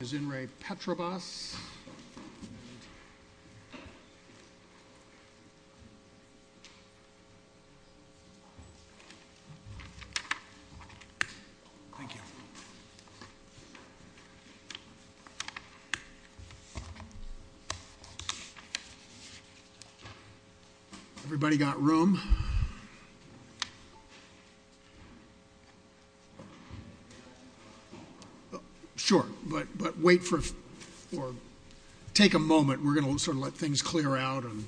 is in Ray Petrobras. Thank you. Everybody got room? Sure, but wait for, or take a moment. We're going to sort of let things clear out and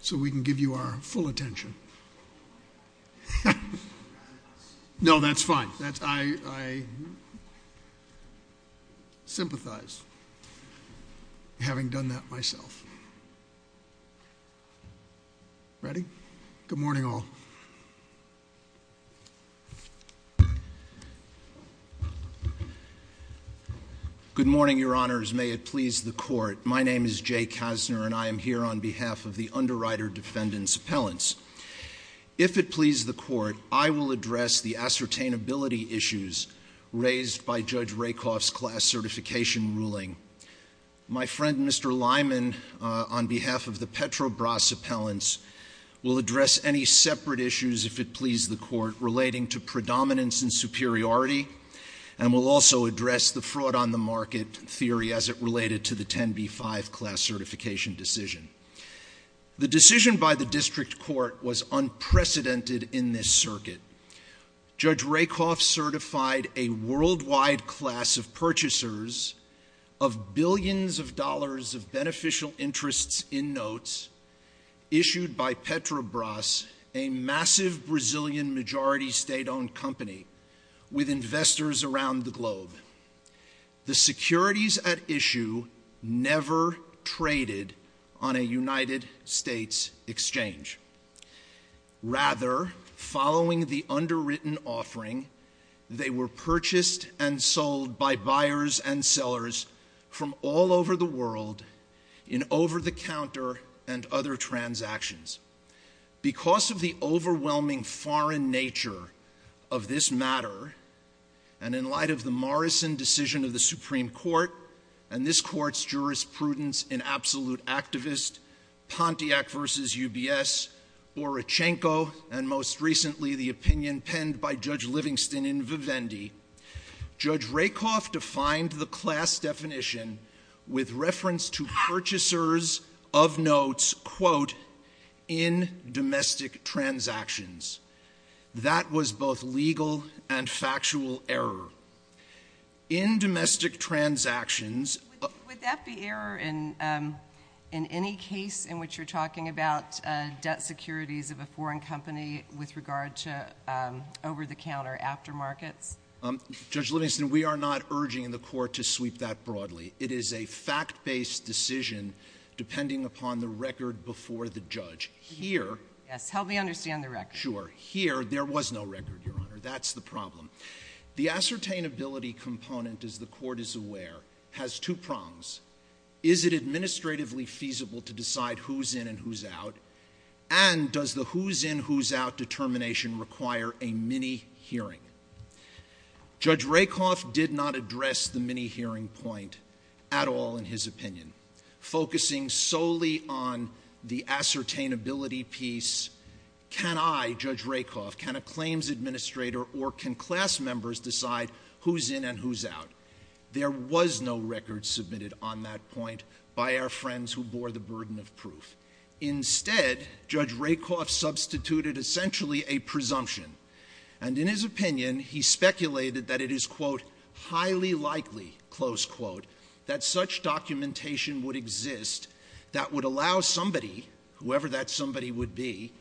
so we can give you our full attention. No, that's fine. I sympathize, having done that before. Good morning, all. Good morning, Your Honors. May it please the Court, my name is Jay Kasner and I am here on behalf of the Underwriter Defendant's Appellants. If it pleases the Court, I will address the ascertainability issues raised by Judge Rakoff's class certification ruling. My friend, Mr. Petrobras' appellants will address any separate issues, if it pleases the Court, relating to predominance and superiority, and will also address the fraud on the market theory as it related to the 10B5 class certification decision. The decision by the District Court was unprecedented in this circuit. Judge Rakoff certified a issued by Petrobras, a massive Brazilian majority state-owned company, with investors around the globe. The securities at issue never traded on a United States exchange. Rather, following the underwritten offering, they were purchased and sold by buyers and sellers from all over the world in over-the-counter and other transactions. Because of the overwhelming foreign nature of this matter, and in light of the Morrison decision of the Supreme Court and this Court's jurisprudence in Absolute Activist, Pontiac v. UBS, Orachenko, and most recently the opinion penned by Judge Livingston in Vivendi, Judge Livingston referred to purchasers of notes, quote, in domestic transactions. That was both legal and factual error. In domestic transactions — Would that be error in any case in which you're talking about debt securities of a foreign company with regard to over-the-counter aftermarkets? Judge Livingston, we are not urging the Court to sweep that broadly. It is a fact-based decision depending upon the record before the judge. Here — Yes, help me understand the record. Sure. Here, there was no record, Your Honor. That's the problem. The ascertainability component, as the Court is aware, has two prongs. Is it administratively feasible to decide who's in and who's out? And does the who's in, who's out determination require a mini-hearing? Judge Rakoff did not address the mini-hearing point at all in his opinion. Focusing solely on the ascertainability piece, can I, Judge Rakoff, can a claims administrator or can class members decide who's in and who's out? There was no record submitted on that point by our friends who bore the burden of proof. Instead, Judge Rakoff substituted essentially a presumption. And in his opinion, he speculated that it is, quote, highly likely, close quote, that such documentation would exist that would allow somebody, whoever that somebody would be,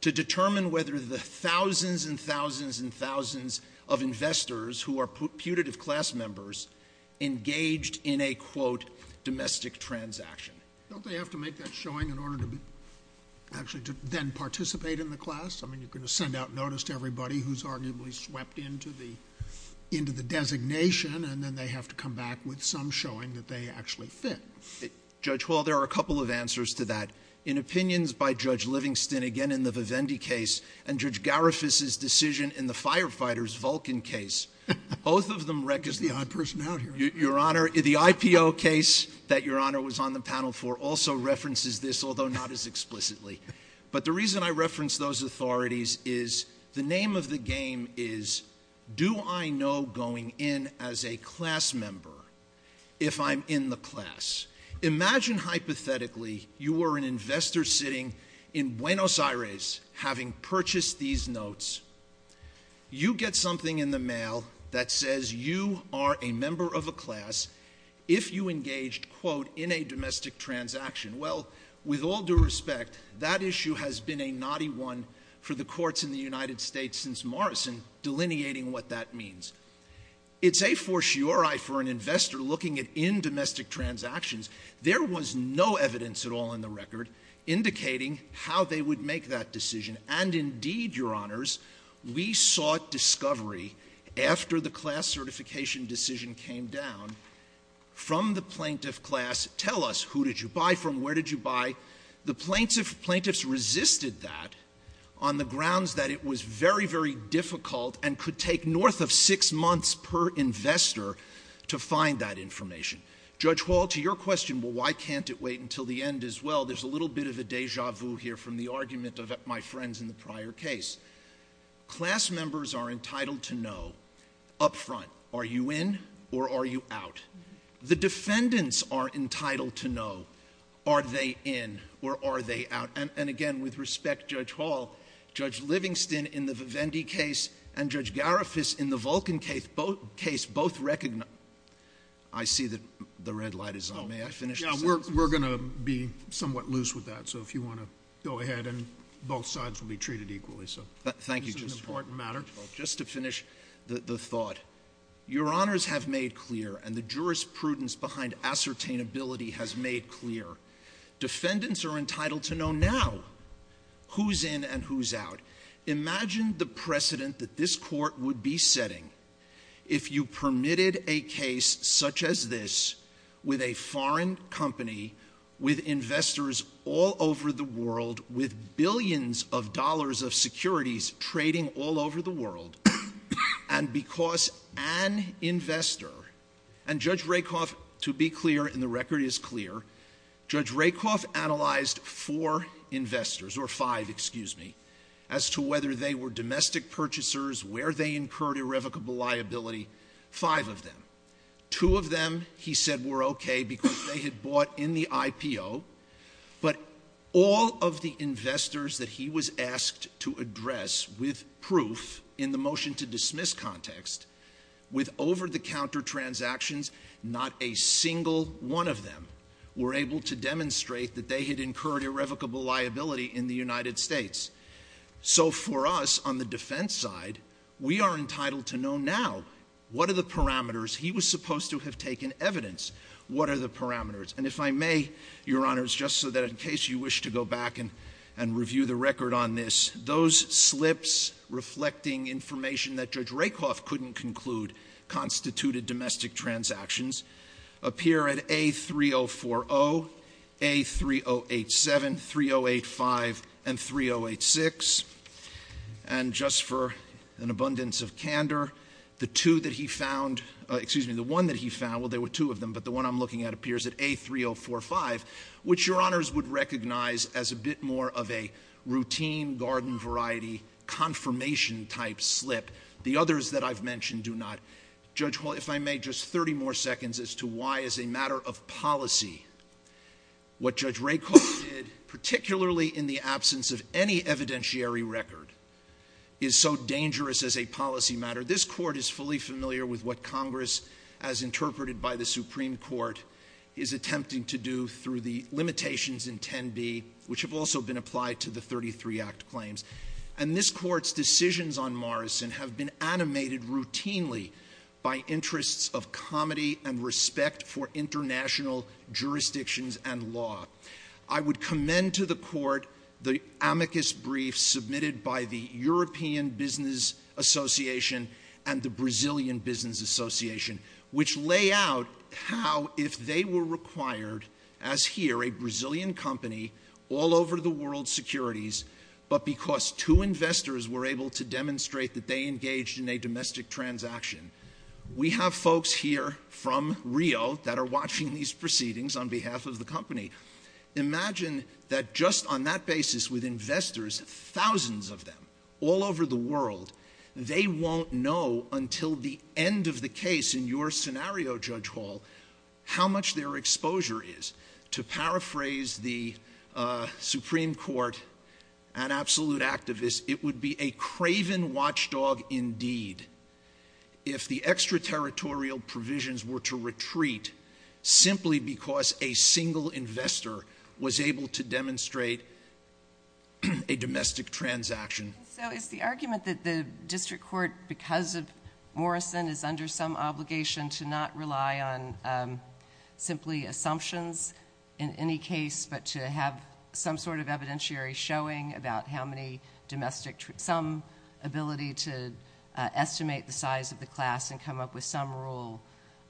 to determine whether the thousands and thousands and thousands of investors who are putative class members engaged in a, quote, domestic transaction. Don't they have to make that showing in order to actually then participate in the class? I mean, you're going to send out notice to everybody who's arguably swept into the, into the designation, and then they have to come back with some showing that they actually fit. Judge Hall, there are a couple of answers to that. In opinions by Judge Livingston, again in the Vivendi case, and Judge Garifuss's decision in the Firefighters Vulcan case, both of them rec- Is the odd person out here? Your Honor, the IPO case that Your Honor was on the panel for also references this, although not as explicitly. But the reason I reference those authorities is, the name of the game is, do I know going in as a class member if I'm in the class? Imagine hypothetically you were an investor sitting in Buenos Aires having purchased these notes. You get something in the mail that says you are a member of a class if you engaged, quote, in a domestic transaction. Well, with all due respect, that issue has been a knotty one for the courts in the United States since Morrison, delineating what that means. It's a fortiori for an investor looking at in-domestic transactions. There was no evidence at all in the record indicating how they would make that decision. And indeed, Your Honors, we sought discovery after the class certification decision came down from the plaintiff class, tell us who did you buy from, where did you buy? The plaintiffs resisted that on the grounds that it was very, very difficult and could take north of six months per investor to find that information. Judge Hall, to your question, well, why can't it wait until the end as well? There's a little bit of a deja vu here from the argument of my friends in the prior case. Class members are entitled to know up front, are you in or are you out? The defendants are entitled to know, are they in or are they out? And again, with respect, Judge Hall, Judge Livingston in the Vivendi case and Judge Gariffas in the Vulcan case both recognized. I see that the red light is on. May I finish? We're going to be somewhat loose with that. So if you want to go ahead and both sides will be treated equally. So thank you. Just an important matter. Just to finish the thought, your honors have made clear and the jurisprudence behind ascertainability has made clear. Defendants are entitled to know now who's in and who's out. Imagine the precedent that this court would be setting if you permitted a case such as this with a foreign company, with investors all over the world, with billions of dollars of securities trading all over the world, and because an investor, and Judge Rakoff, to be clear, and the record is clear, Judge Rakoff analyzed four investors, or five, excuse me, as to whether they were domestic purchasers, where they incurred irrevocable liability, five of them. Two of them, he said, were okay because they had bought in the IPO, but all of the contracts, with proof in the motion to dismiss context, with over-the-counter transactions, not a single one of them were able to demonstrate that they had incurred irrevocable liability in the United States. So for us, on the defense side, we are entitled to know now what are the parameters. He was supposed to have taken evidence. What are the parameters? And if I may, your honors, just so that in case you wish to go back and review the record on this, those slips reflecting information that Judge Rakoff couldn't conclude constituted domestic transactions appear at A3040, A3087, 3085, and 3086. And just for an abundance of candor, the two that he found, excuse me, the one that he found, well, there were two of them, but the one I'm looking at appears at A3045, which your honors would recognize as a bit more of a routine, garden-variety, confirmation-type slip. The others that I've mentioned do not. Judge, if I may, just 30 more seconds as to why, as a matter of policy, what Judge Rakoff did, particularly in the absence of any evidentiary record, is so dangerous as a policy matter. This Court is fully familiar with what Congress, as interpreted by the Court, which have also been applied to the 33 Act claims. And this Court's decisions on Morrison have been animated routinely by interests of comedy and respect for international jurisdictions and law. I would commend to the Court the amicus briefs submitted by the European Business Association and the Brazilian Business Association, which lay out how, if they were required, as here, a Brazilian company, all over the world's securities, but because two investors were able to demonstrate that they engaged in a domestic transaction. We have folks here from Rio that are watching these proceedings on behalf of the company. Imagine that just on that basis, with investors, thousands of them, all over the world, they won't know until the end of the case in your scenario, Judge Hall, how much their exposure is. To paraphrase the Supreme Court, an absolute activist, it would be a craven watchdog indeed if the extraterritorial provisions were to retreat simply because a single investor was able to demonstrate a domestic transaction. So is the argument that the District Court, because of Morrison, is under some obligation to not rely on simply assumptions in any case, but to have some sort of evidentiary showing about how many domestic, some ability to estimate the size of the class and come up with some rule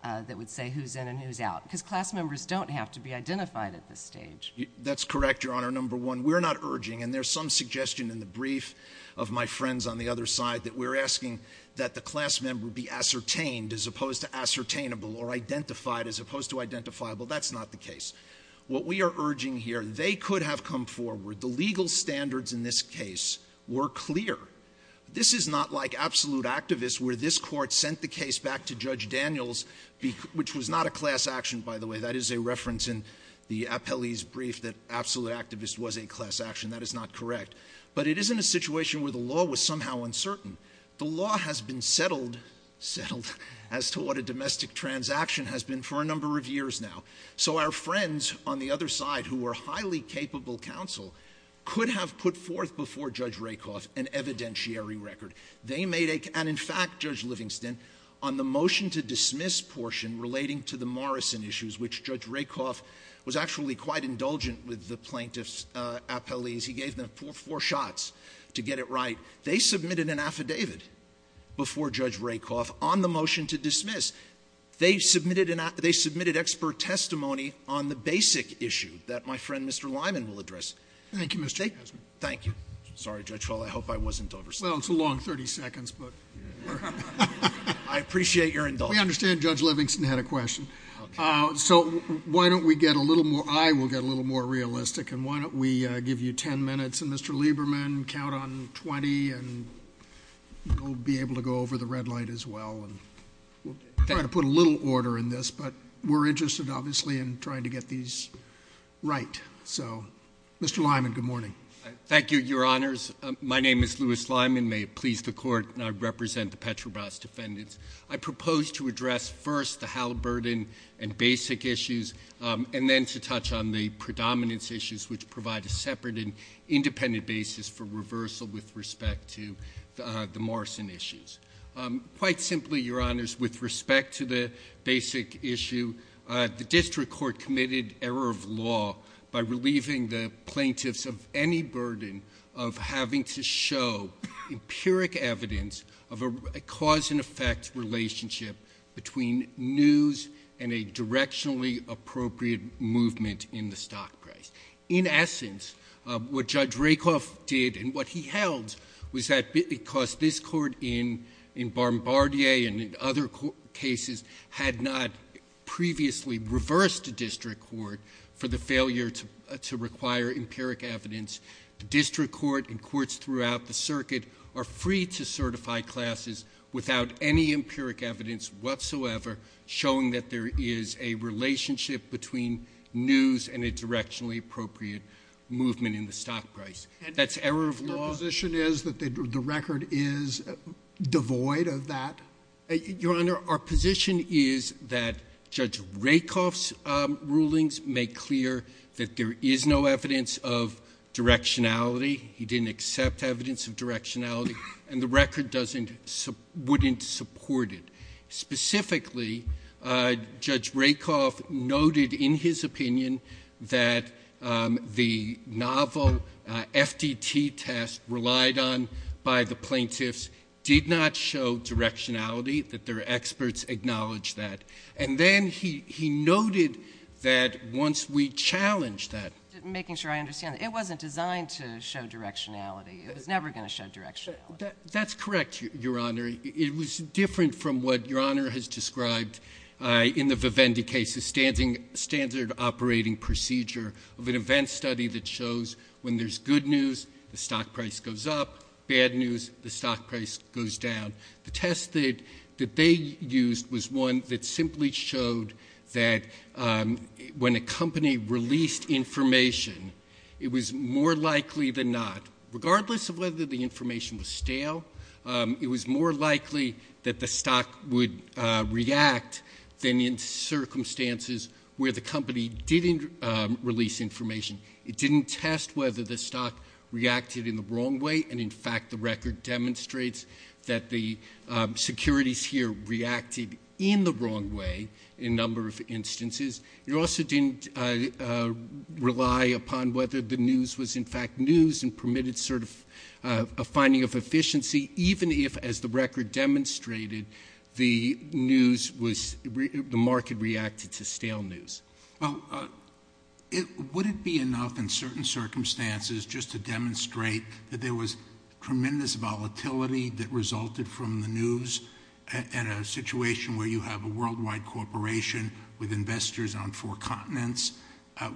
that would say who's in and who's out? Because class members don't have to be identified at this stage. That's correct, Your Honor, number one. We're not urging, and there's some suggestion in the brief of my friends on the other side, that we're asking that the class member be ascertained as opposed to ascertainable or identified as opposed to identifiable. That's not the case. What we are urging here, they could have come forward. The legal standards in this case were clear. This is not like absolute activists where this Court sent the case back to Judge Daniels, which was not a class action, by the way. That is a reference in the appellee's brief that absolute activist was a class action. That is not correct. But it isn't a situation where the law was somehow uncertain. The law has been settled as to what a domestic transaction has been for a number of years now. So our friends on the other side who were highly capable counsel could have put forth before Judge Rakoff an evidentiary record. They made a, and in fact, Judge Livingston, on the motion to dismiss portion relating to the Morrison issues, which Judge Rakoff was actually quite indulgent with the plaintiff's appellees. He gave them four shots to get it right. They submitted an affidavit before Judge Rakoff on the motion to dismiss. They submitted expert testimony on the basic issue that my friend, Mr. Lyman, will address. Thank you, Mr. Haslund. Thank you. Sorry, Judge Fallin. I hope I wasn't oversimplifying. Well, it's a long 30 seconds, but... I appreciate your indulgence. We understand Judge Livingston had a question. So why don't we get a little more, I will get a little more realistic, and why don't we give you 10 minutes and Mr. Lieberman count on 20 and you'll be able to go over the red light as well. We'll try to put a little order in this, but we're interested, obviously, in trying to get these right. So, Mr. Lyman, good morning. Thank you, Your Honors. My name is Louis Lyman. May it please the Court that I represent the Petrobras defendants. I propose to address first the HAL burden and basic issues, and then to touch on the predominance issues, which provide a separate and independent basis for reversal with respect to the Morrison issues. Quite simply, Your Honors, with respect to the basic issue, the District Court committed error of law by relieving the plaintiffs of any burden of having to show empiric evidence of a cause and effect relationship between news and a directionally appropriate movement in the stock price. In essence, what Judge Rakoff did and what he held was that because this Court in Bombardier and in other cases had not previously reversed the District Court for the failure to require empiric evidence, the District Court and courts throughout the circuit are free to certify classes without any empiric evidence whatsoever, showing that there is a relationship between news and a directionally appropriate movement in the stock price. That's error of law. And your position is that the record is devoid of that? Your Honor, our position is that Judge Rakoff's rulings make clear that there is no evidence of directionality. He didn't accept evidence of directionality, and the record wouldn't support it. Specifically, Judge Rakoff noted in his opinion that the novel FDT test relied on by the plaintiffs did not show directionality, that their experts acknowledged that. And then he noted that once we challenged that. Making sure I understand. It wasn't designed to show directionality. It was never going to show directionality. That's correct, Your Honor. It was different from what Your Honor has described in the Vivendi case, the standard operating procedure of an event study that shows when there's good news, the stock price goes up. Bad news, the stock price goes down. The test that they used was one that simply showed that when a company released information, it was more likely than not, regardless of whether the information was stale, it was more likely that the stock would react than in circumstances where the company didn't release information. It didn't test whether the stock reacted in the wrong way, and in fact the record demonstrates that the securities here reacted in the wrong way in a number of instances. It also didn't rely upon whether the news was in fact news and permitted sort of a finding of efficiency, even if, as the record demonstrated, the news was, the market reacted to stale news. Would it be enough in certain circumstances just to demonstrate that there was tremendous volatility that resulted from the news in a situation where you have a worldwide corporation with investors on four continents?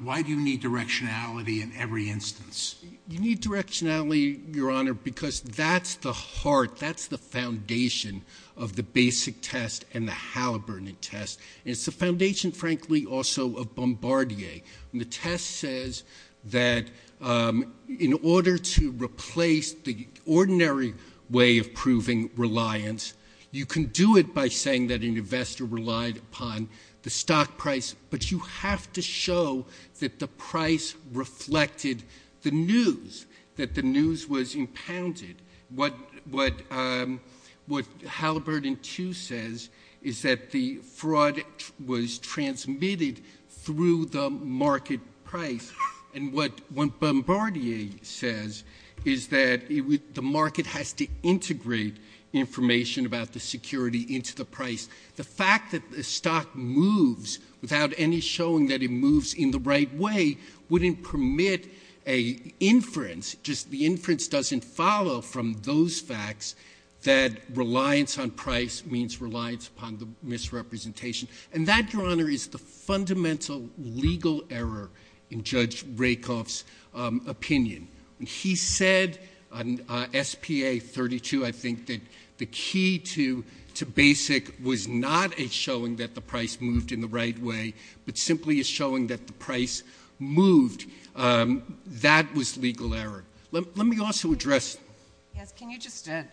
Why do you need directionality in every instance? You need directionality, Your Honor, because that's the heart, that's the foundation of the basic test and the Halliburton test. It's the foundation, frankly, also of Bombardier. The test says that in order to replace the ordinary way of proving reliance, you can do it by saying that an investor relied upon the stock price, but you have to show that the price reflected the news, that the news was impounded. What Halliburton 2 says is that the fraud was transmitted through the market price, and what Bombardier says is that the market has to integrate information about the security into the price. The fact that the stock moves without any showing that it moves in the right way wouldn't permit a inference, just the inference doesn't follow from those facts that reliance on price means reliance upon the misrepresentation, and that, Your Honor, is the fundamental legal error in Judge Rakoff's opinion. He said on S.P.A. 32, I think, that the key to basic was not a showing that the price moved in the right way, but simply a showing that the price moved. That was legal error. Let me also address... Yes, can you just point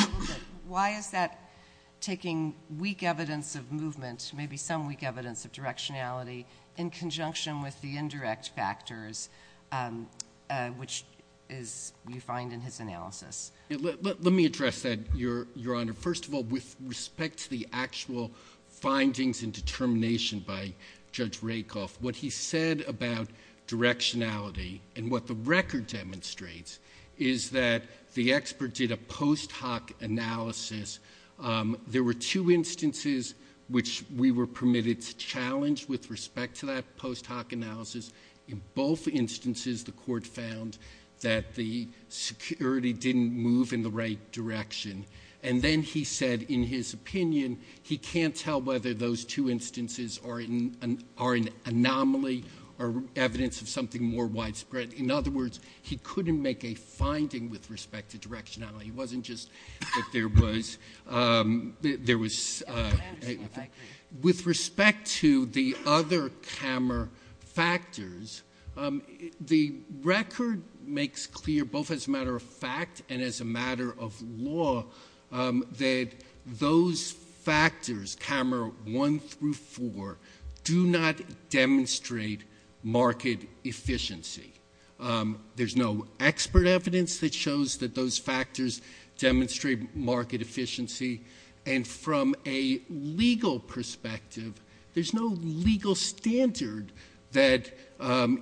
out a little bit, why is that taking weak evidence of movement, maybe some weak evidence of directionality, in conjunction with the indirect factors, which you find in his analysis? Let me address that, Your Honor. First of all, with respect to the actual findings and determination by Judge Rakoff, what he said about directionality and what the record demonstrates is that the expert did a post hoc analysis. There were two instances which we were permitted to challenge with respect to that post hoc analysis. In both instances, the court found that the security didn't move in the right direction. Then he said, in his opinion, he can't tell whether those two instances are an anomaly or evidence of something more widespread. In other words, he couldn't make a finding with respect to directionality. He wasn't just that there was... With respect to the other KAMR factors, the record makes clear, both as a matter of fact and as a matter of law, that those factors, KAMR 1 through 4, do not demonstrate market efficiency. There's no expert evidence that shows that those factors demonstrate market efficiency. From a legal perspective, there's no legal standard that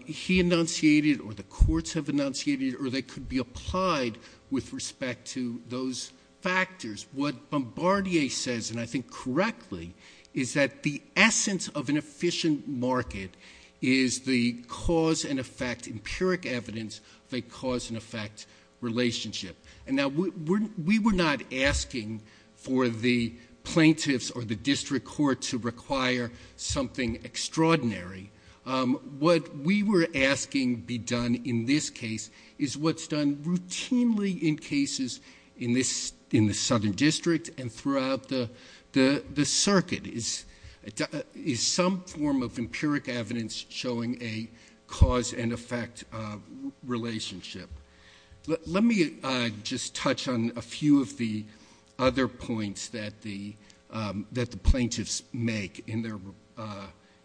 he enunciated or the courts have enunciated or that could be applied with respect to those factors. What Bombardier says, and I think correctly, is that the essence of an efficient market is the cause and effect, empiric evidence, of a cause and effect relationship. We were not asking for the plaintiffs or the district court to require something extraordinary. What we were asking be done in this case is what's done routinely in cases in the Southern District, is empiric evidence showing a cause and effect relationship. Let me just touch on a few of the other points that the plaintiffs make in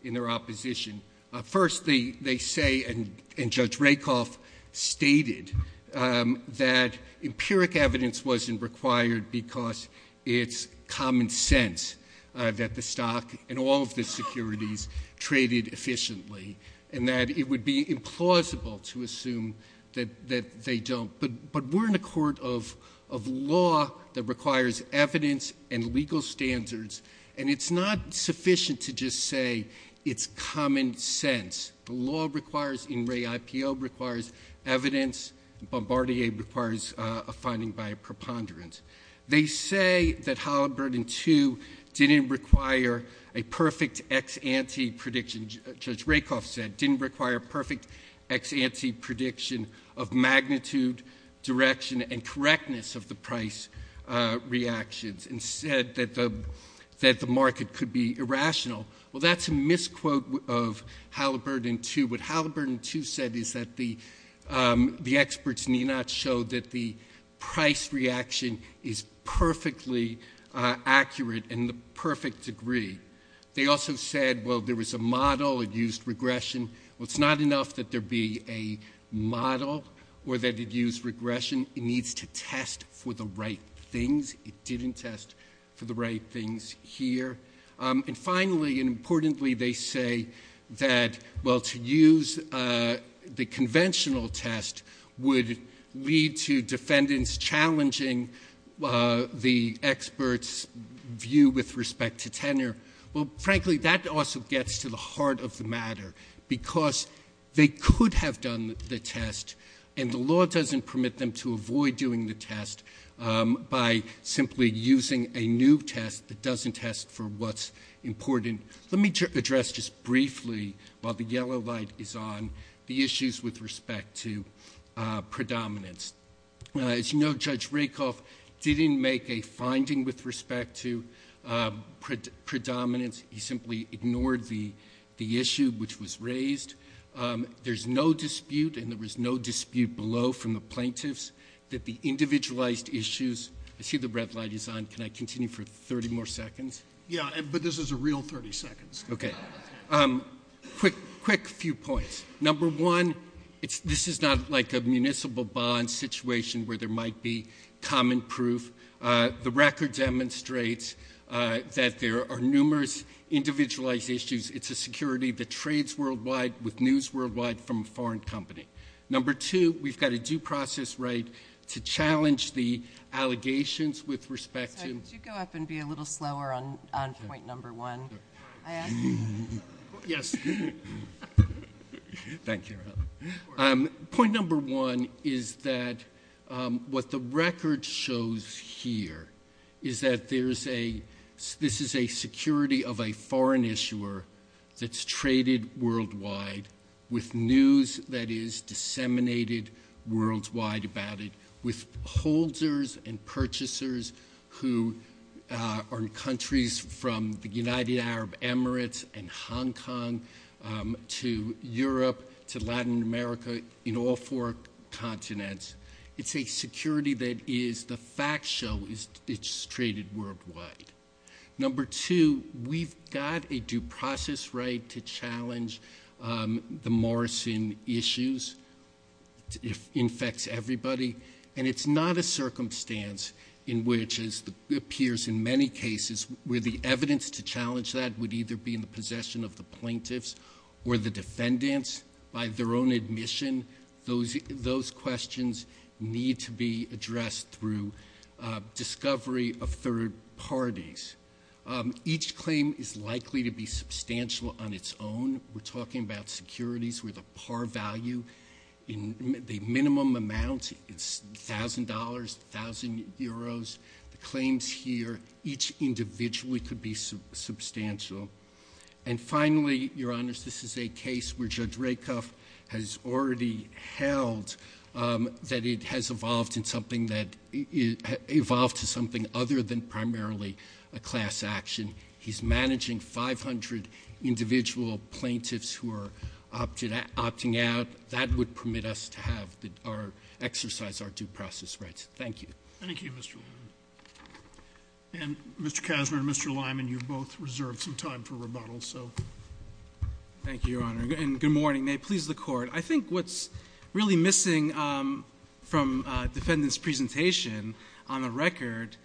their opposition. First they say, and Judge Rakoff stated, that empiric evidence wasn't required because it's common sense that the stock and all of the securities traded efficiently and that it would be implausible to assume that they don't. But we're in a court of law that requires evidence and legal standards, and it's not sufficient to just say it's common sense. The law requires, in Ray IPO, requires evidence. Bombardier requires a finding by a preponderance. They say that Halliburton II didn't require a perfect ex-ante prediction. Judge Rakoff said it didn't require a perfect ex-ante prediction of magnitude, direction, and correctness of the price reactions, and said that the market could be irrational. Well, that's a misquote of Halliburton II. What Halliburton II said is that the experts need not show that the price reaction is perfectly accurate in the perfect degree. They also said, well, there was a model. It used regression. Well, it's not enough that there be a model or that it used regression. It needs to test for the right things. It didn't test for the right things here. And finally, and importantly, they say that, well, to use the conventional test would lead to defendants challenging the experts' view with respect to tenure. Well, frankly, that also gets to the heart of the matter, because they could have done the test, and the law doesn't permit them to avoid doing the test by simply using a new test that doesn't test for what's important. Let me address just briefly, while the yellow light is on, the issues with respect to predominance. As you know, Judge Rakoff didn't make a finding with respect to predominance. He simply ignored the issue which was raised. There's no dispute, and there was no dispute below from the plaintiffs that the individualized issues—I see the red light is on. Can I continue for 30 more seconds? Yeah, but this is a real 30 seconds. Okay. Quick few points. Number one, this is not like a municipal bond situation where there might be common proof. The record demonstrates that there are numerous individualized issues. It's a security that trades worldwide with news worldwide from a foreign company. Number two, we've got a due process right to challenge the allegations with respect to— Could you go up and be a little slower on point number one? Point number one is that what the record shows here is that this is a security of a foreign issuer that's traded worldwide with news that is disseminated worldwide about it with holders and purchasers who are in countries from the United Arab Emirates and Hong Kong to Europe to Latin America, in all four continents. It's a security that is—the facts show it's traded worldwide. Number two, we've got a due process right to challenge the Morrison issues. It infects everybody, and it's not a circumstance in which, as it appears in many cases, where the evidence to challenge that would either be in the possession of the plaintiffs or the defendants by their own admission. Those questions need to be addressed through discovery of third parties. Each claim is likely to be substantial on its own. We're talking about securities with a par value in the minimum amount. It's $1,000, 1,000 euros. The claims here, each individually could be substantial. And finally, Your Honors, this is a case where Judge Rakoff has already held that it has evolved to something other than primarily a class action. He's managing 500 individual plaintiffs who are opting out. That would permit us to exercise our due process rights. Thank you. Thank you, Mr. Lyman. And, Mr. Kasner and Mr. Lyman, you've both reserved some time for rebuttal, so— Thank you, Your Honor. And good morning. May it please the Court. I think what's really missing from defendants' presentation on the record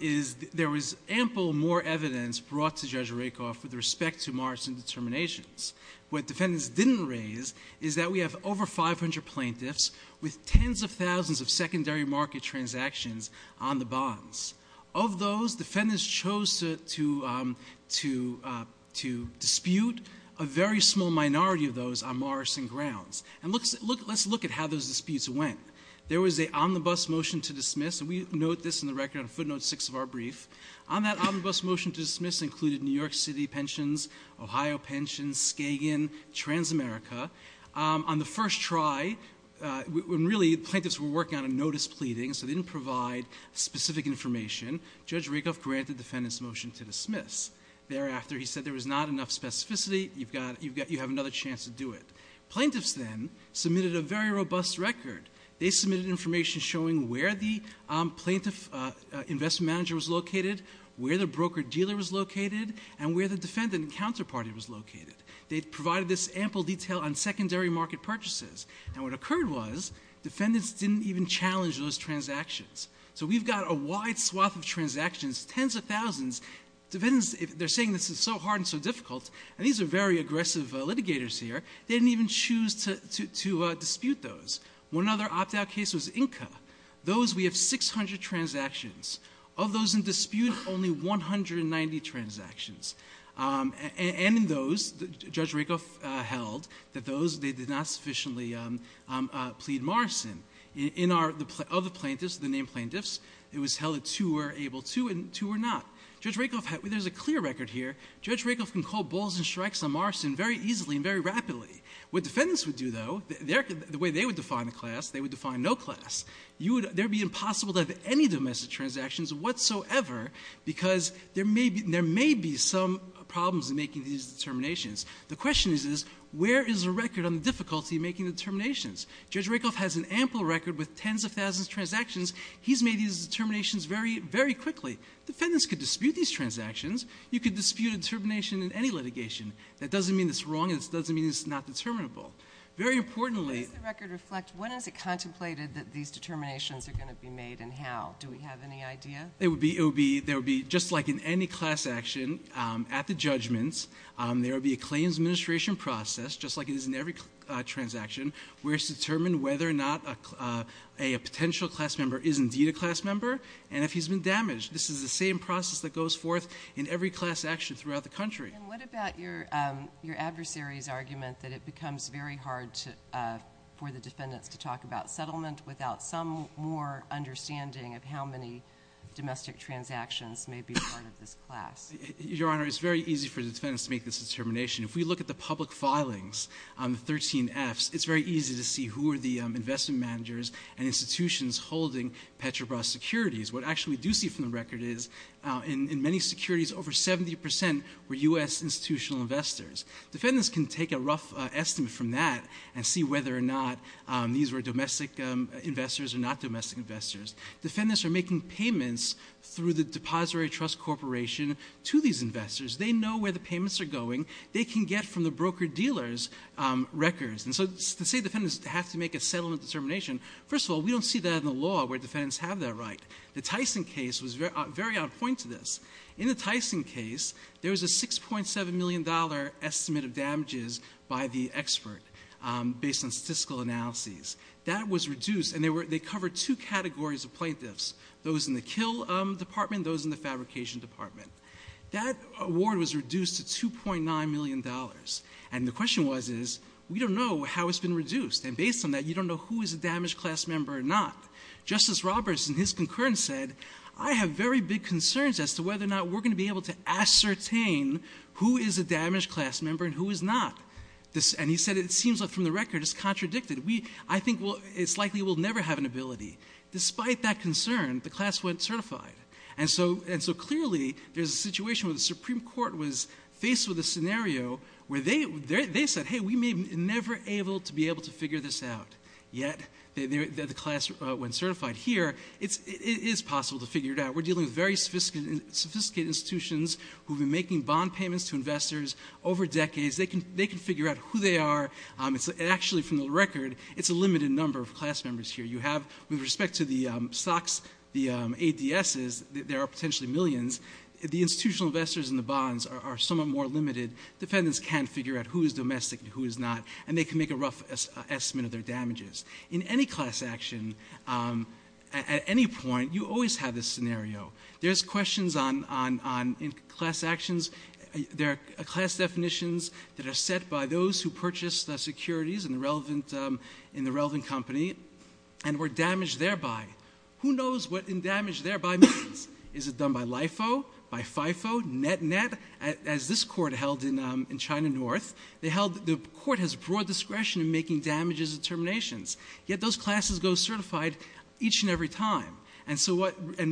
is there was ample more evidence brought to Judge Rakoff with respect to Morrison determinations. What defendants didn't raise is that we have over 500 plaintiffs with tens of thousands of secondary market transactions on the bonds. Of those, defendants chose to dispute a very small minority of those on Morrison grounds. And let's look at how those disputes went. There was an omnibus motion to dismiss, and we note this in the record on footnote six of our brief. On that omnibus motion to dismiss included New York City pensions, Ohio pensions, Skagen, Transamerica. On the first try, when really plaintiffs were working on a notice pleading, so they didn't provide specific information, Judge Rakoff granted defendants' motion to dismiss. Thereafter, he said there was not enough specificity. You have another chance to do it. Plaintiffs then submitted a very robust record. They submitted information showing where the broker-dealer was located and where the defendant and counterparty was located. They provided this ample detail on secondary market purchases. And what occurred was defendants didn't even challenge those transactions. So we've got a wide swath of transactions, tens of thousands. Defendants, they're saying this is so hard and so difficult, and these are very aggressive litigators here. They didn't even choose to dispute those. One other opt-out case was 600 transactions. Of those in dispute, only 190 transactions. And in those, Judge Rakoff held that those, they did not sufficiently plead marcin. In our other plaintiffs, the named plaintiffs, it was held that two were able to and two were not. There's a clear record here. Judge Rakoff can call bulls and strikes on marcin very easily and very rapidly. What defendants would do, though, the way they would define a class, they would define no class. It would be impossible to have any domestic transactions whatsoever because there may be some problems in making these determinations. The question is, where is a record on the difficulty of making determinations? Judge Rakoff has an ample record with tens of thousands of transactions. He's made these determinations very quickly. Defendants could dispute these transactions. You could dispute a determination in any litigation. That doesn't mean it's wrong and it doesn't mean it's not determinable. Very importantly... How does the record reflect, when is it contemplated that these determinations are going to be made and how? Do we have any idea? There would be, just like in any class action, at the judgments, there would be a claims administration process, just like it is in every transaction, where it's determined whether or not a potential class member is indeed a class member and if he's been damaged. This is the same process that goes forth in every class action throughout the country. And what about your adversary's argument that it becomes very hard for the defendants to talk about settlement without some more understanding of how many domestic transactions may be a part of this class? Your Honor, it's very easy for the defendants to make this determination. If we look at the public filings, the 13 Fs, it's very easy to see who are the investment managers and institutions holding Petrobras securities. What actually we do see from the record is, in many securities, over 70% were U.S. institutional investors. Defendants can take a rough estimate from that and see whether or not these were domestic investors or not domestic investors. Defendants are making payments through the depository trust corporation to these investors. They know where the payments are going. They can get from the broker-dealers records. And so to say defendants have to make a settlement determination, first of all, we don't see that in the law where defendants have that right. The Tyson case was very on point to this. In the Tyson case, there was a $6.7 million estimate of damages by the expert based on statistical analyses. That was reduced, and they covered two categories of plaintiffs, those in the kill department, those in the fabrication department. That award was reduced to $2.9 million. And the question was, we don't know how it's been reduced. And based on that, you don't know who is a damaged class member or not. Justice Roberts, in his concurrence, said, I have very big concerns as to whether or not we're going to be able to ascertain who is a damaged class member and who is not. And he said, it seems like from the record it's contradicted. I think it's likely we'll never have an ability. Despite that concern, the class went certified. And so clearly, there's a situation where the Supreme Court was faced with a scenario where they said, hey, we may never be able to figure this out. Yet, the class went certified. Here, it is possible to figure it out. We're dealing with very sophisticated institutions who have been making bond payments to investors over decades. They can figure out who they are. Actually, from the record, it's a limited number of class members here. With respect to the stocks, the ADSs, there are potentially millions. The institutional investors in the bonds are somewhat more limited. Defendants can figure out who is domestic and who is not. And they can make a rough estimate of their damages. In any class action, at any point, you always have this scenario. There's questions on class actions. There are class definitions that are set by those who purchased the securities in the relevant company and were damaged thereby. Who knows what in damage thereby means? Is it done by LIFO, by FIFO, NetNet? As this court held in China North, the court has broad discretion in making damages and terminations. Yet, those classes go certified each and every time. And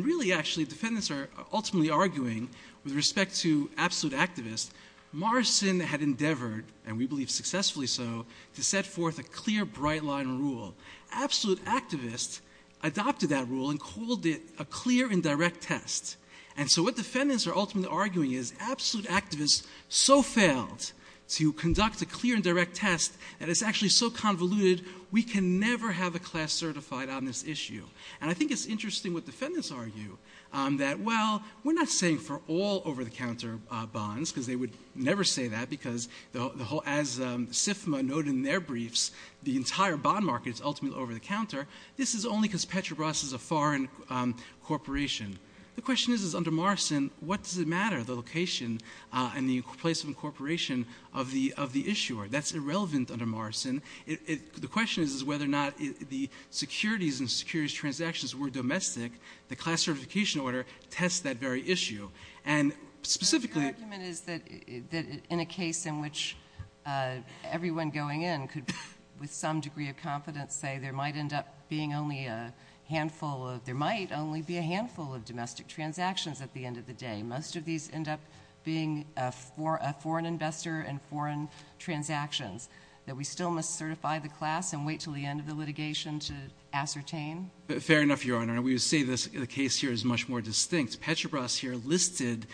really, actually, defendants are ultimately arguing, with respect to absolute activists, Morrison had endeavored, and we believe successfully so, to set forth a clear, bright line rule. Absolute activists adopted that rule and called it a clear and direct test. And so what defendants are ultimately arguing is absolute activists so failed to conduct a clear and direct test that it's actually so convoluted, we can never have a class certified on this issue. And I think it's interesting what defendants argue, that, well, we're not saying for all over-the-counter bonds, because they would never say that, because as SIFMA noted in ultimately over-the-counter, this is only because Petrobras is a foreign corporation. The question is, under Morrison, what does it matter, the location and the place of incorporation of the issuer? That's irrelevant under Morrison. The question is whether or not the securities and securities transactions were domestic. The class certification order tests that very issue. And specifically... Your argument is that in a case in which everyone going in could, with some degree of confidence, say there might end up being only a handful of... There might only be a handful of domestic transactions at the end of the day. Most of these end up being a foreign investor and foreign transactions that we still must certify the class and wait until the end of the litigation to ascertain? Fair enough, Your Honor. And we would say the case here is much more distinct. Petrobras here listed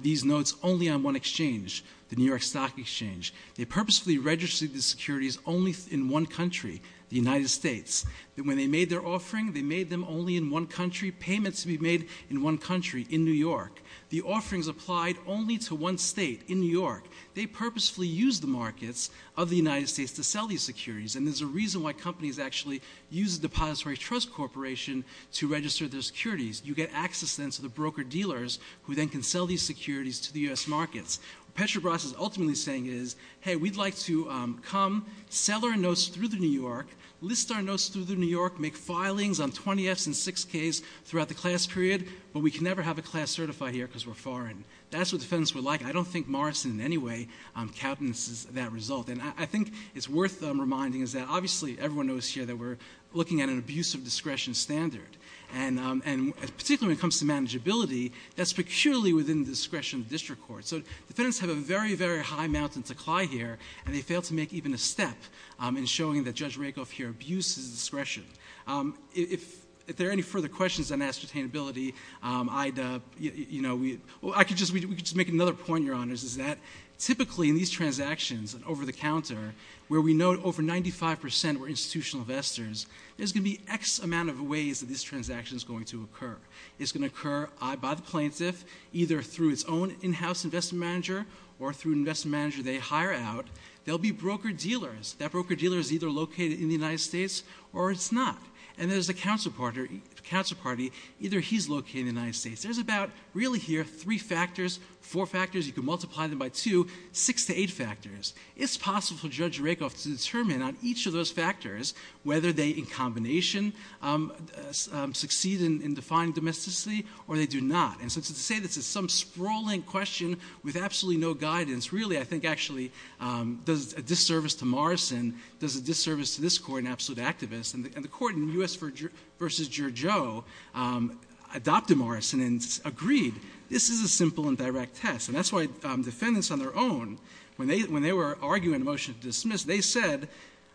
these notes only on one exchange, the New York Stock Exchange. They purposefully registered these securities only in one country, the United States. And when they made their offering, they made them only in one country. Payments would be made in one country, in New York. The offerings applied only to one state, in New York. They purposefully used the markets of the United States to sell these securities. And there's a reason why companies actually use a depository trust corporation to register their securities. You get access then to the broker-dealers who then can sell these securities to the U.S. markets. Petrobras is ultimately saying is, hey, we'd like to come, sell our notes through New York, list our notes through New York, make filings on 20Fs and 6Ks throughout the class period, but we can never have a class certified here because we're foreign. That's what defendants would like. I don't think Morrison in any way countenances that result. And I think it's worth reminding is that obviously everyone knows here that we're looking at an abuse of discretion standard. And particularly when it comes to manageability, that's peculiarly within the discretion of the district court. So defendants have a very, very high mountain to climb here, and they fail to make even a step in showing that Judge Rakoff here abuses discretion. If there are any further questions on ascertainability, I'd, you know, we, well, I could just, we could just make another point, Your Honors, is that typically in these transactions and over-the-counter, where we know over 95% were institutional investors, there's going to be X amount of ways that this transaction is going to occur. It's going to occur by the plaintiff, either through its own in-house investment manager or through an investment manager they hire out. There'll be broker-dealers. That broker-dealer is either located in the United States or it's not. And there's a counsel party, either he's located in the United States. There's about, really here, three factors, four factors, you could multiply them by two, six to eight factors. It's possible for Judge Rakoff to determine on each of those factors whether they in combination succeed in defying domesticity or they do not. And so to say this is some sprawling question with absolutely no guidance, really I think actually does a disservice to Morrison, does a disservice to this Court an absolute activist. And the Court in U.S. v. Giorgio adopted Morrison and agreed this is a simple and direct test. And that's why defendants on their own, when they were arguing a motion to dismiss, they said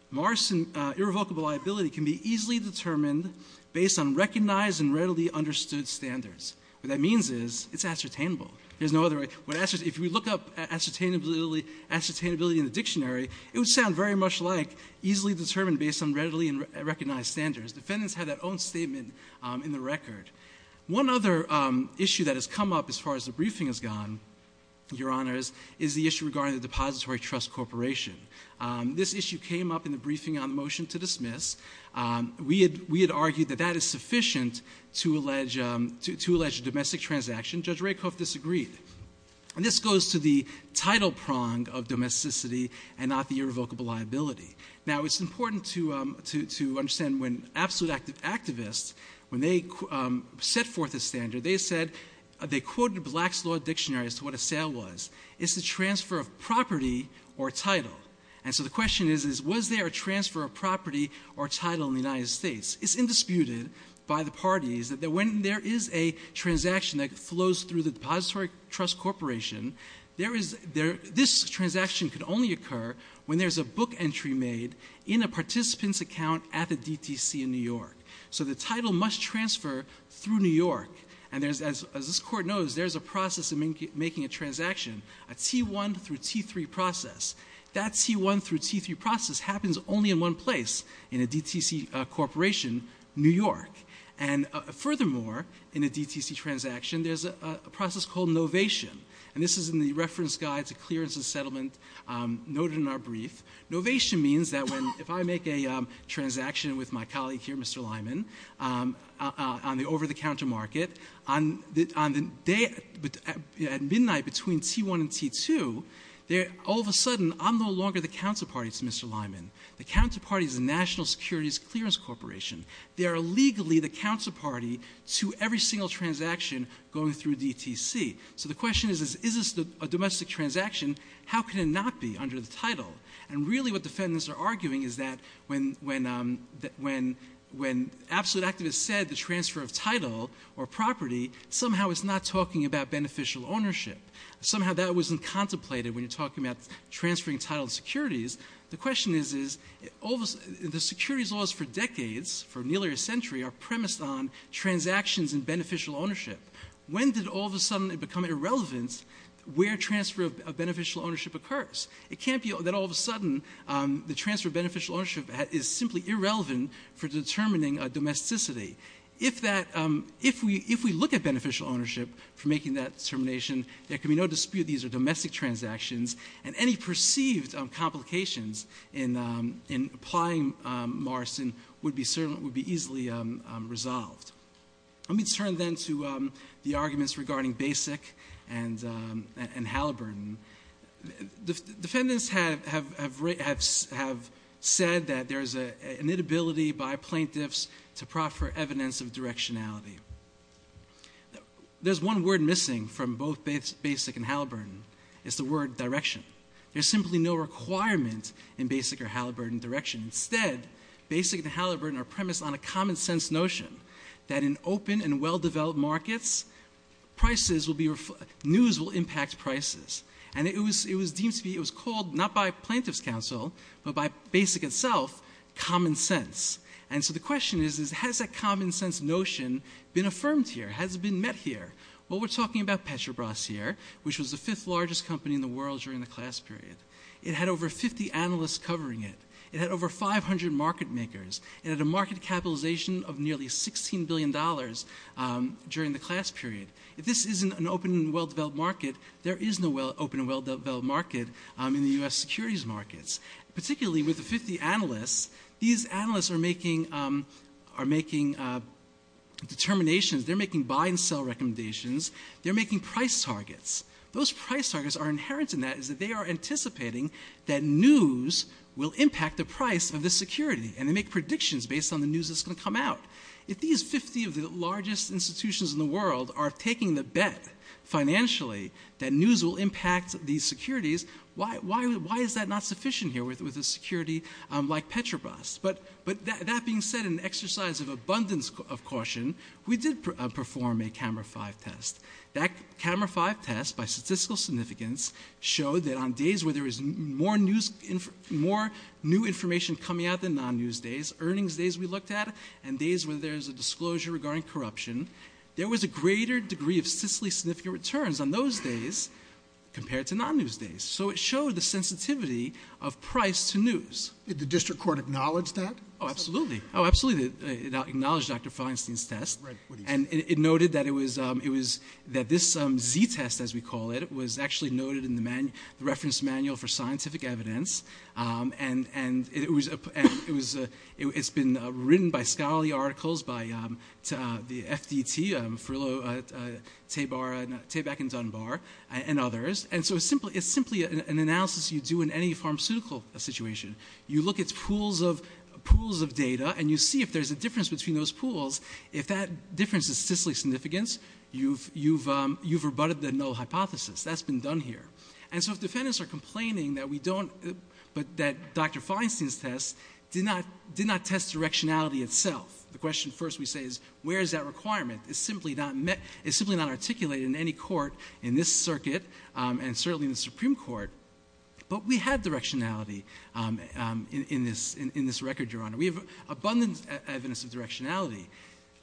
Morrison irrevocable liability can be easily determined based on recognized and readily understood standards. What that means is it's ascertainable. There's no other way. If we look up ascertainability in the dictionary, it would sound very much like easily determined based on readily recognized standards. Defendants had that own statement in the record. One other issue that has come up as far as the briefing has gone, Your Honors, is the issue regarding the Depository Trust Corporation. This issue came up in the briefing on the motion to dismiss. We had argued that that is sufficient to allege a domestic transaction. Judge Rakoff disagreed. And this goes to the title prong of domesticity and not the irrevocable liability. Now, it's important to understand when absolute activists, when they set forth a standard, they said they quoted Black's Law Dictionary as to what a transfer of property or title. And so the question is, was there a transfer of property or title in the United States? It's indisputed by the parties that when there is a transaction that flows through the Depository Trust Corporation, this transaction can only occur when there's a book entry made in a participant's account at the DTC in New York. So the title must transfer through New York. And as this Court knows, there's a process of making a transaction, a T1 through T3 process. That T1 through T3 process happens only in one place in a DTC corporation, New York. And furthermore, in a DTC transaction, there's a process called novation. And this is in the Reference Guide to Clearance and Settlement noted in our brief. Novation means that if I make a transaction with my colleague here, Mr. Lyman, on the day at midnight between T1 and T2, all of a sudden I'm no longer the counterparty to Mr. Lyman. The counterparty is the National Securities Clearance Corporation. They are legally the counterparty to every single transaction going through DTC. So the question is, is this a domestic transaction? How can it not be under the title? And really what defendants are saying is that the title or property somehow is not talking about beneficial ownership. Somehow that wasn't contemplated when you're talking about transferring title securities. The question is, the securities laws for decades, for nearly a century, are premised on transactions and beneficial ownership. When did all of a sudden it become irrelevant where transfer of beneficial ownership occurs? It can't be that all of a sudden the transfer of ownership is a domesticity. If we look at beneficial ownership for making that determination, there can be no dispute these are domestic transactions and any perceived complications in applying Morrison would be easily resolved. Let me turn then to the arguments regarding BASIC and Halliburton. Defendants have said that there's an inability by plaintiffs to proffer evidence of directionality. There's one word missing from both BASIC and Halliburton. It's the word direction. There's simply no requirement in BASIC or Halliburton direction. Instead, BASIC and Halliburton are premised on a common sense notion that in open and well-developed markets, news will impact prices. It was called, not by plaintiff's counsel, but by BASIC itself, common sense. The question is, has that common sense notion been affirmed here? Has it been met here? We're talking about Petrobras here, which was the fifth largest company in the world during the class period. It had over 50 analysts covering it. It had over 500 market makers. It had a market capitalization of nearly $16 billion during the class period. If this isn't an open and well-developed market, there is no open and well-developed market in the U.S. securities markets. Particularly with the 50 analysts, these analysts are making determinations. They're making buy and sell recommendations. They're making price targets. Those price targets are inherent in that is that they are anticipating that news will impact the price of the security. They make predictions based on the news that's going to come out. If these 50 of the largest institutions in the world are taking the bet financially that news will impact these securities, why is that not sufficient here with a security like Petrobras? That being said, in an exercise of abundance of caution, we did perform a Camera 5 test. That Camera 5 test, by statistical significance, showed that on days where there was more new information coming out than non-news days, earnings days we looked at, and days where there's a disclosure regarding corruption, there was a greater degree of statistically significant returns on those days compared to non-news days. It showed the sensitivity of price to news. Did the district court acknowledge that? Absolutely. It acknowledged Dr. Feinstein's test. It noted that this Z-test, as we call it, was actually noted in the reference manual for scientific evidence. It was noteworthy that the article was written by scholarly articles by the FDT, Frillo, Tabak, and Dunbar, and others. It's simply an analysis you do in any pharmaceutical situation. You look at pools of data and you see if there's a difference between those pools. If that difference is statistically significant, you've rebutted the null hypothesis. That's been done here. If defendants are complaining that Dr. Feinstein's test did not test directionality itself, the question first we say is where is that requirement? It's simply not articulated in any court in this circuit, and certainly in the Supreme Court. We had directionality in this record, Your Honor. We have abundant evidence of directionality.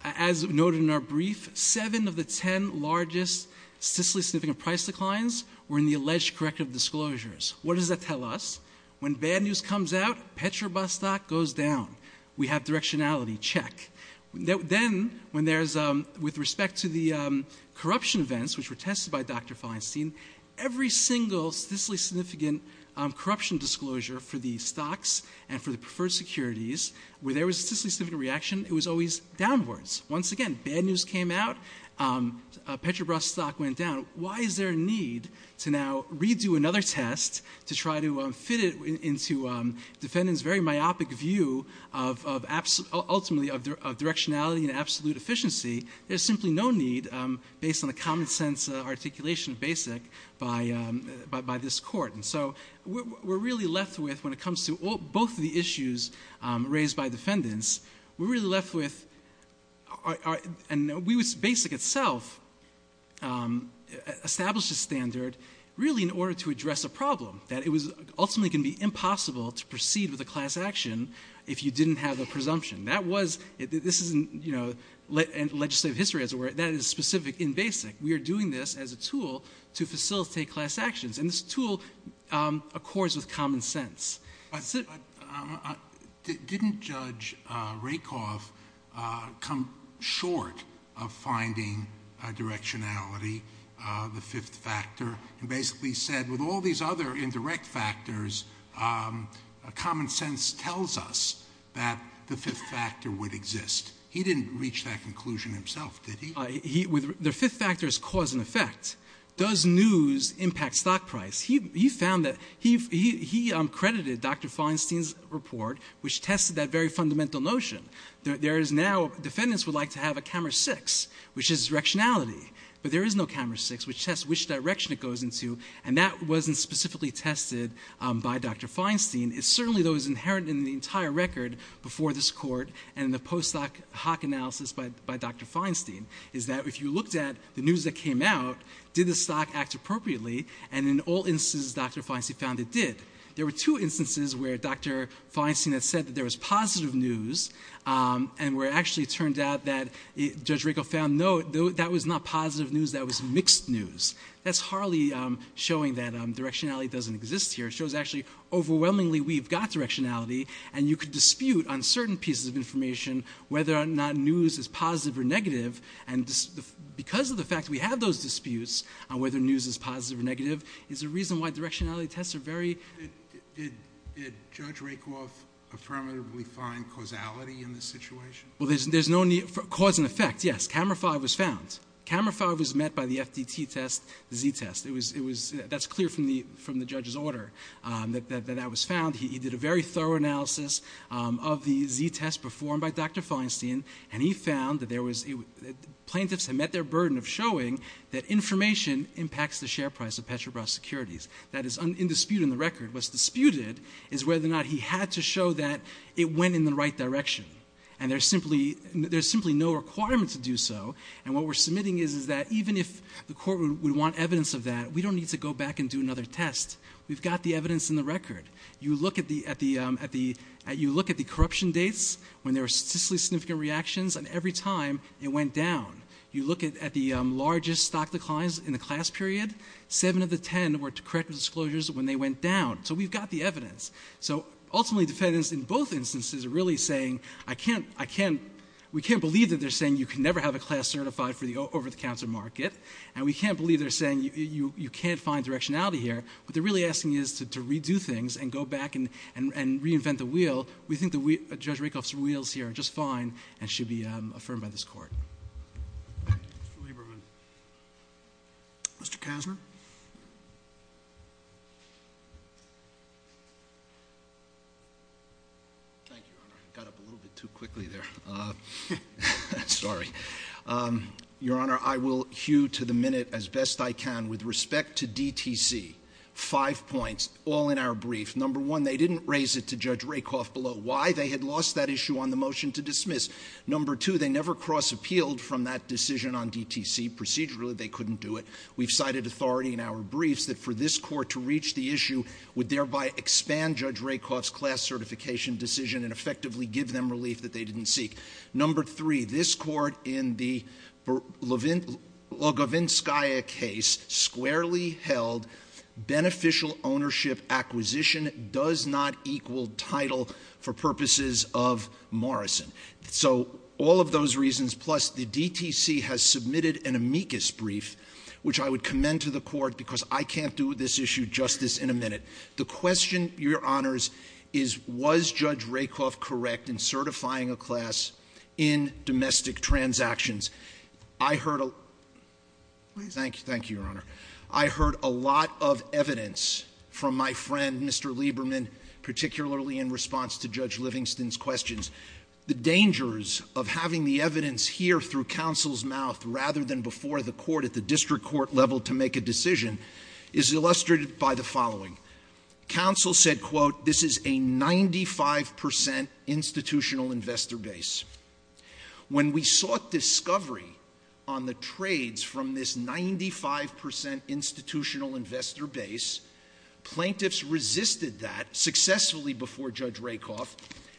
As noted in our brief, seven of the ten largest statistically significant price declines were in the alleged corrective disclosures. What does that tell us? When bad news comes out, Petrobras stock goes down. We have directionality. Check. Then, with respect to the corruption events, which were tested by Dr. Feinstein, every single statistically significant corruption disclosure for the stocks and for the preferred securities, where there was a statistically significant reaction, it was always downwards. Once again, bad news came out. Petrobras stock went down. Why is there a need to now redo another test to try to fit it into defendants' very myopic view, ultimately, of directionality and absolute efficiency? There's simply no need, based on the common sense articulation of BASIC, by this court. We're really left with, when it comes to both of the issues raised by defendants, we're really left with, and BASIC itself established a standard, really, in order to address a problem, that it was ultimately going to be impossible to proceed with a class action if you didn't have a presumption. This isn't legislative history, as it were. That is specific in BASIC. We are doing this as a tool to facilitate class actions, and this tool accords with common sense. Didn't Judge Rakoff come short of finding directionality, the fifth factor, and basically said, with all these other indirect factors, common sense tells us that the fifth factor would exist. He didn't reach that conclusion himself, did he? The fifth factor is cause and effect. Does news impact stock price? He credited Dr. Feinstein's report, which tested that very fundamental notion. Defendants would like to have a camera six, which is directionality, but there is no camera six, which tests which direction it goes into, and that wasn't specifically tested by Dr. Feinstein. It certainly, though, is inherent in the entire record before this court and in the post hoc analysis by Dr. Feinstein. It's that if you looked at the news that came out, did the stock act appropriately, and in all instances Dr. Feinstein found it did. There were two instances where Dr. Feinstein had said that there was positive news, and where it actually turned out that Judge Rakoff found, no, that was not positive news, that was mixed news. That's hardly showing that directionality doesn't exist here. It shows, actually, overwhelmingly we've got directionality, and you could dispute on certain pieces of information whether or not news is positive or negative, and because of the fact that we have those disputes on whether news is positive or negative is a reason why directionality tests are very... Did Judge Rakoff affirmatively find causality in this situation? Well, there's no need for cause and effect, yes. Camera five was found. Camera five was met by the FDT test, the Z test. That's clear from the judge's order that that was found. He did a very thorough analysis of the Z test performed by Dr. Feinstein, and he found that plaintiffs had met their burden of showing that information impacts the share price of Petrobras securities. That is in dispute in the record. What's disputed is whether or not he had to show that it went in the right direction, and there's simply no requirement to do so. And what we're submitting is that even if the court would want evidence of that, we don't need to go back and do another test. We've got the evidence in the record. You look at the corruption dates when there were statistically significant reactions, and every time it went down. You look at the largest stock declines in the class period. Seven of the ten were corrective disclosures when they went down. So we've got the evidence. So ultimately defendants in both instances are really saying, we can't believe that they're saying you can never have a class certified over the counter market, and we can't believe they're saying you can't find directionality here. What they're really asking is to redo things and go back and reinvent the wheel. We think Judge Rakoff's wheels here are just fine and should be affirmed by this court. Mr. Kasner? Thank you, Your Honor. Got up a little bit too quickly there. Sorry. Your Honor, I will hew to the minute as best I can with respect to DTC. Five points, all in our brief. Number one, they didn't raise it to Judge Rakoff below why they had lost that issue on the motion to dismiss. Number two, they never cross-appealed from that decision on DTC. Procedurally, they couldn't do it. We've cited authority in our briefs that for this court to reach the issue would thereby expand Judge Rakoff's class certification decision and effectively give them relief that they didn't seek. Number three, this court in the Logovinskaya case squarely held beneficial ownership acquisition does not equal title for purposes of Morrison. So all of those reasons, plus the DTC has submitted an amicus brief, which I would commend to the court because I can't do this issue justice in a minute. The question, Your Honors, is was Judge Rakoff correct in certifying a class in domestic transactions? I heard a lot of evidence from my friend, Mr. Lieberman, particularly in response to Judge Livingston's questions. The dangers of having the evidence here through counsel's mouth rather than before the court at the district court level to make a decision is illustrated by the following. Counsel said, quote, this is a 95% institutional investor base. When we sought discovery on the trades from this 95% institutional investor base, plaintiffs resisted that successfully before Judge Rakoff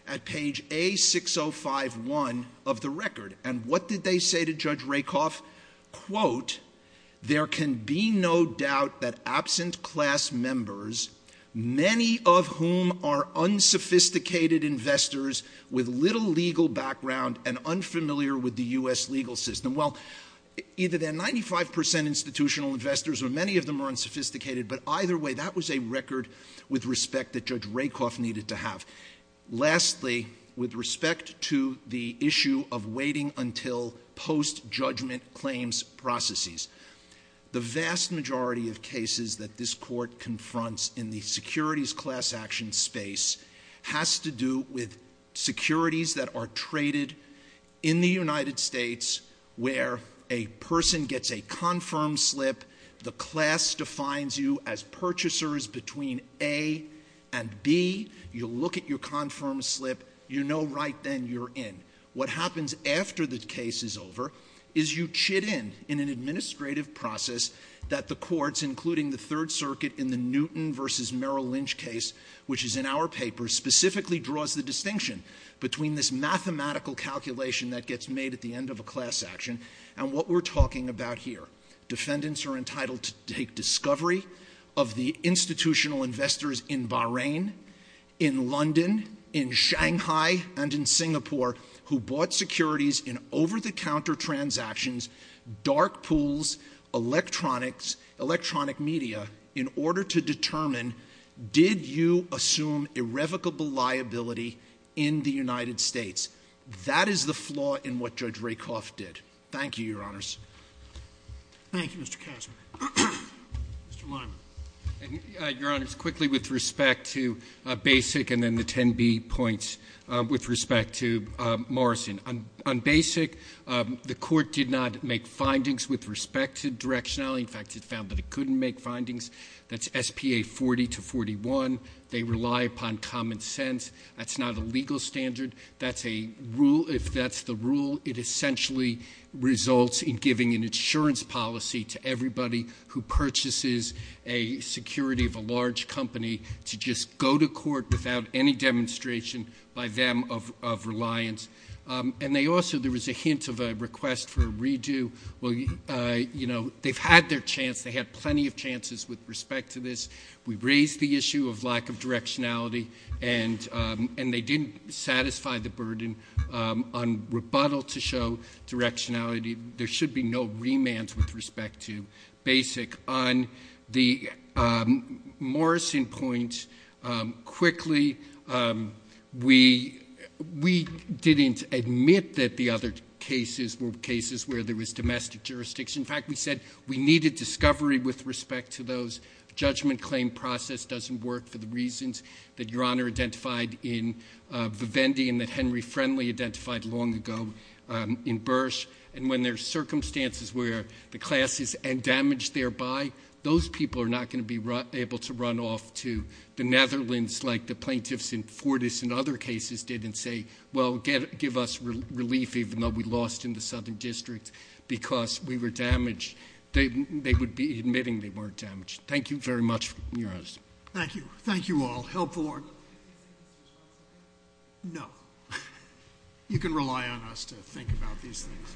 at page A6051 of the record. And what did they say to Judge Rakoff? Quote, there can be no doubt that absent class members, many of whom are unsophisticated investors with little legal background and unfamiliar with the U.S. legal system. Well, either they're 95% institutional investors or many of them are unsophisticated, but either way, that was a record with respect that Judge Rakoff needed to have. Lastly, with respect to the issue of waiting until post-judgment claims processes, the vast majority of cases that this court confronts in the securities class action space has to do with securities that are traded in the United States where a person gets a confirmed slip, the class defines you as purchasers between A and B. You look at your confirmed slip. You know right then you're in. What happens after the case is over is you chit in in an administrative process that the courts, including the Third Circuit in the Newton v. Merrill Lynch case, which is in our paper, specifically draws the distinction between this mathematical calculation that gets made at the end of a class action and what we're talking about here. Defendants are entitled to take discovery of the institutional investors in Bahrain, in London, in Shanghai, and in Singapore who bought securities in over-the-counter transactions, dark pools, electronics, electronic media in order to determine did you assume irrevocable liability in the United States. That is the flaw in what Judge Rakoff did. Thank you, Your Honors. Thank you, Mr. Kasman. Mr. Lyman. Your Honors, quickly with respect to BASIC and then the 10B points with respect to Morrison. On BASIC, the court did not make findings with respect to directionality. In fact, it found that it couldn't make findings. That's S.P.A. 40 to 41. They rely upon common sense. That's not a legal standard. That's a rule. If that's the rule, it essentially results in giving an insurance policy to everybody who purchases a security of a large company to just go to court without any demonstration by them of reliance. And they also, there was a hint of a request for a redo. Well, you know, they've had their chance. They had plenty of chances with respect to this. We raised the issue of lack of directionality, and they didn't satisfy the burden on rebuttal to show directionality. There should be no remand with respect to BASIC. On the Morrison point, quickly, we didn't admit that the other cases were cases where there was domestic jurisdiction. In fact, we said we needed discovery with respect to those. Judgment claim process doesn't work for the reasons that Your Honor identified in Vivendi and that Henry Friendly identified long ago in Bursch. And when there's circumstances where the class is damaged thereby, those people are not going to be able to run off to the Netherlands like the plaintiffs in Fortis and other cases did and say, well, give us relief even though we lost in the southern district because we were damaged. They would be admitting they weren't damaged. Thank you very much, Your Honor. Thank you. Thank you all. Helpful argument. No. You can rely on us to think about these things.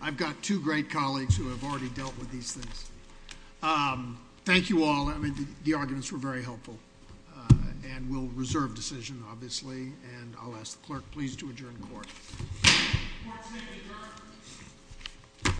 I've got two great colleagues who have already dealt with these things. Thank you all. Well, I mean, the arguments were very helpful, and we'll reserve decision, obviously, and I'll ask the clerk please to adjourn court. Court is adjourned.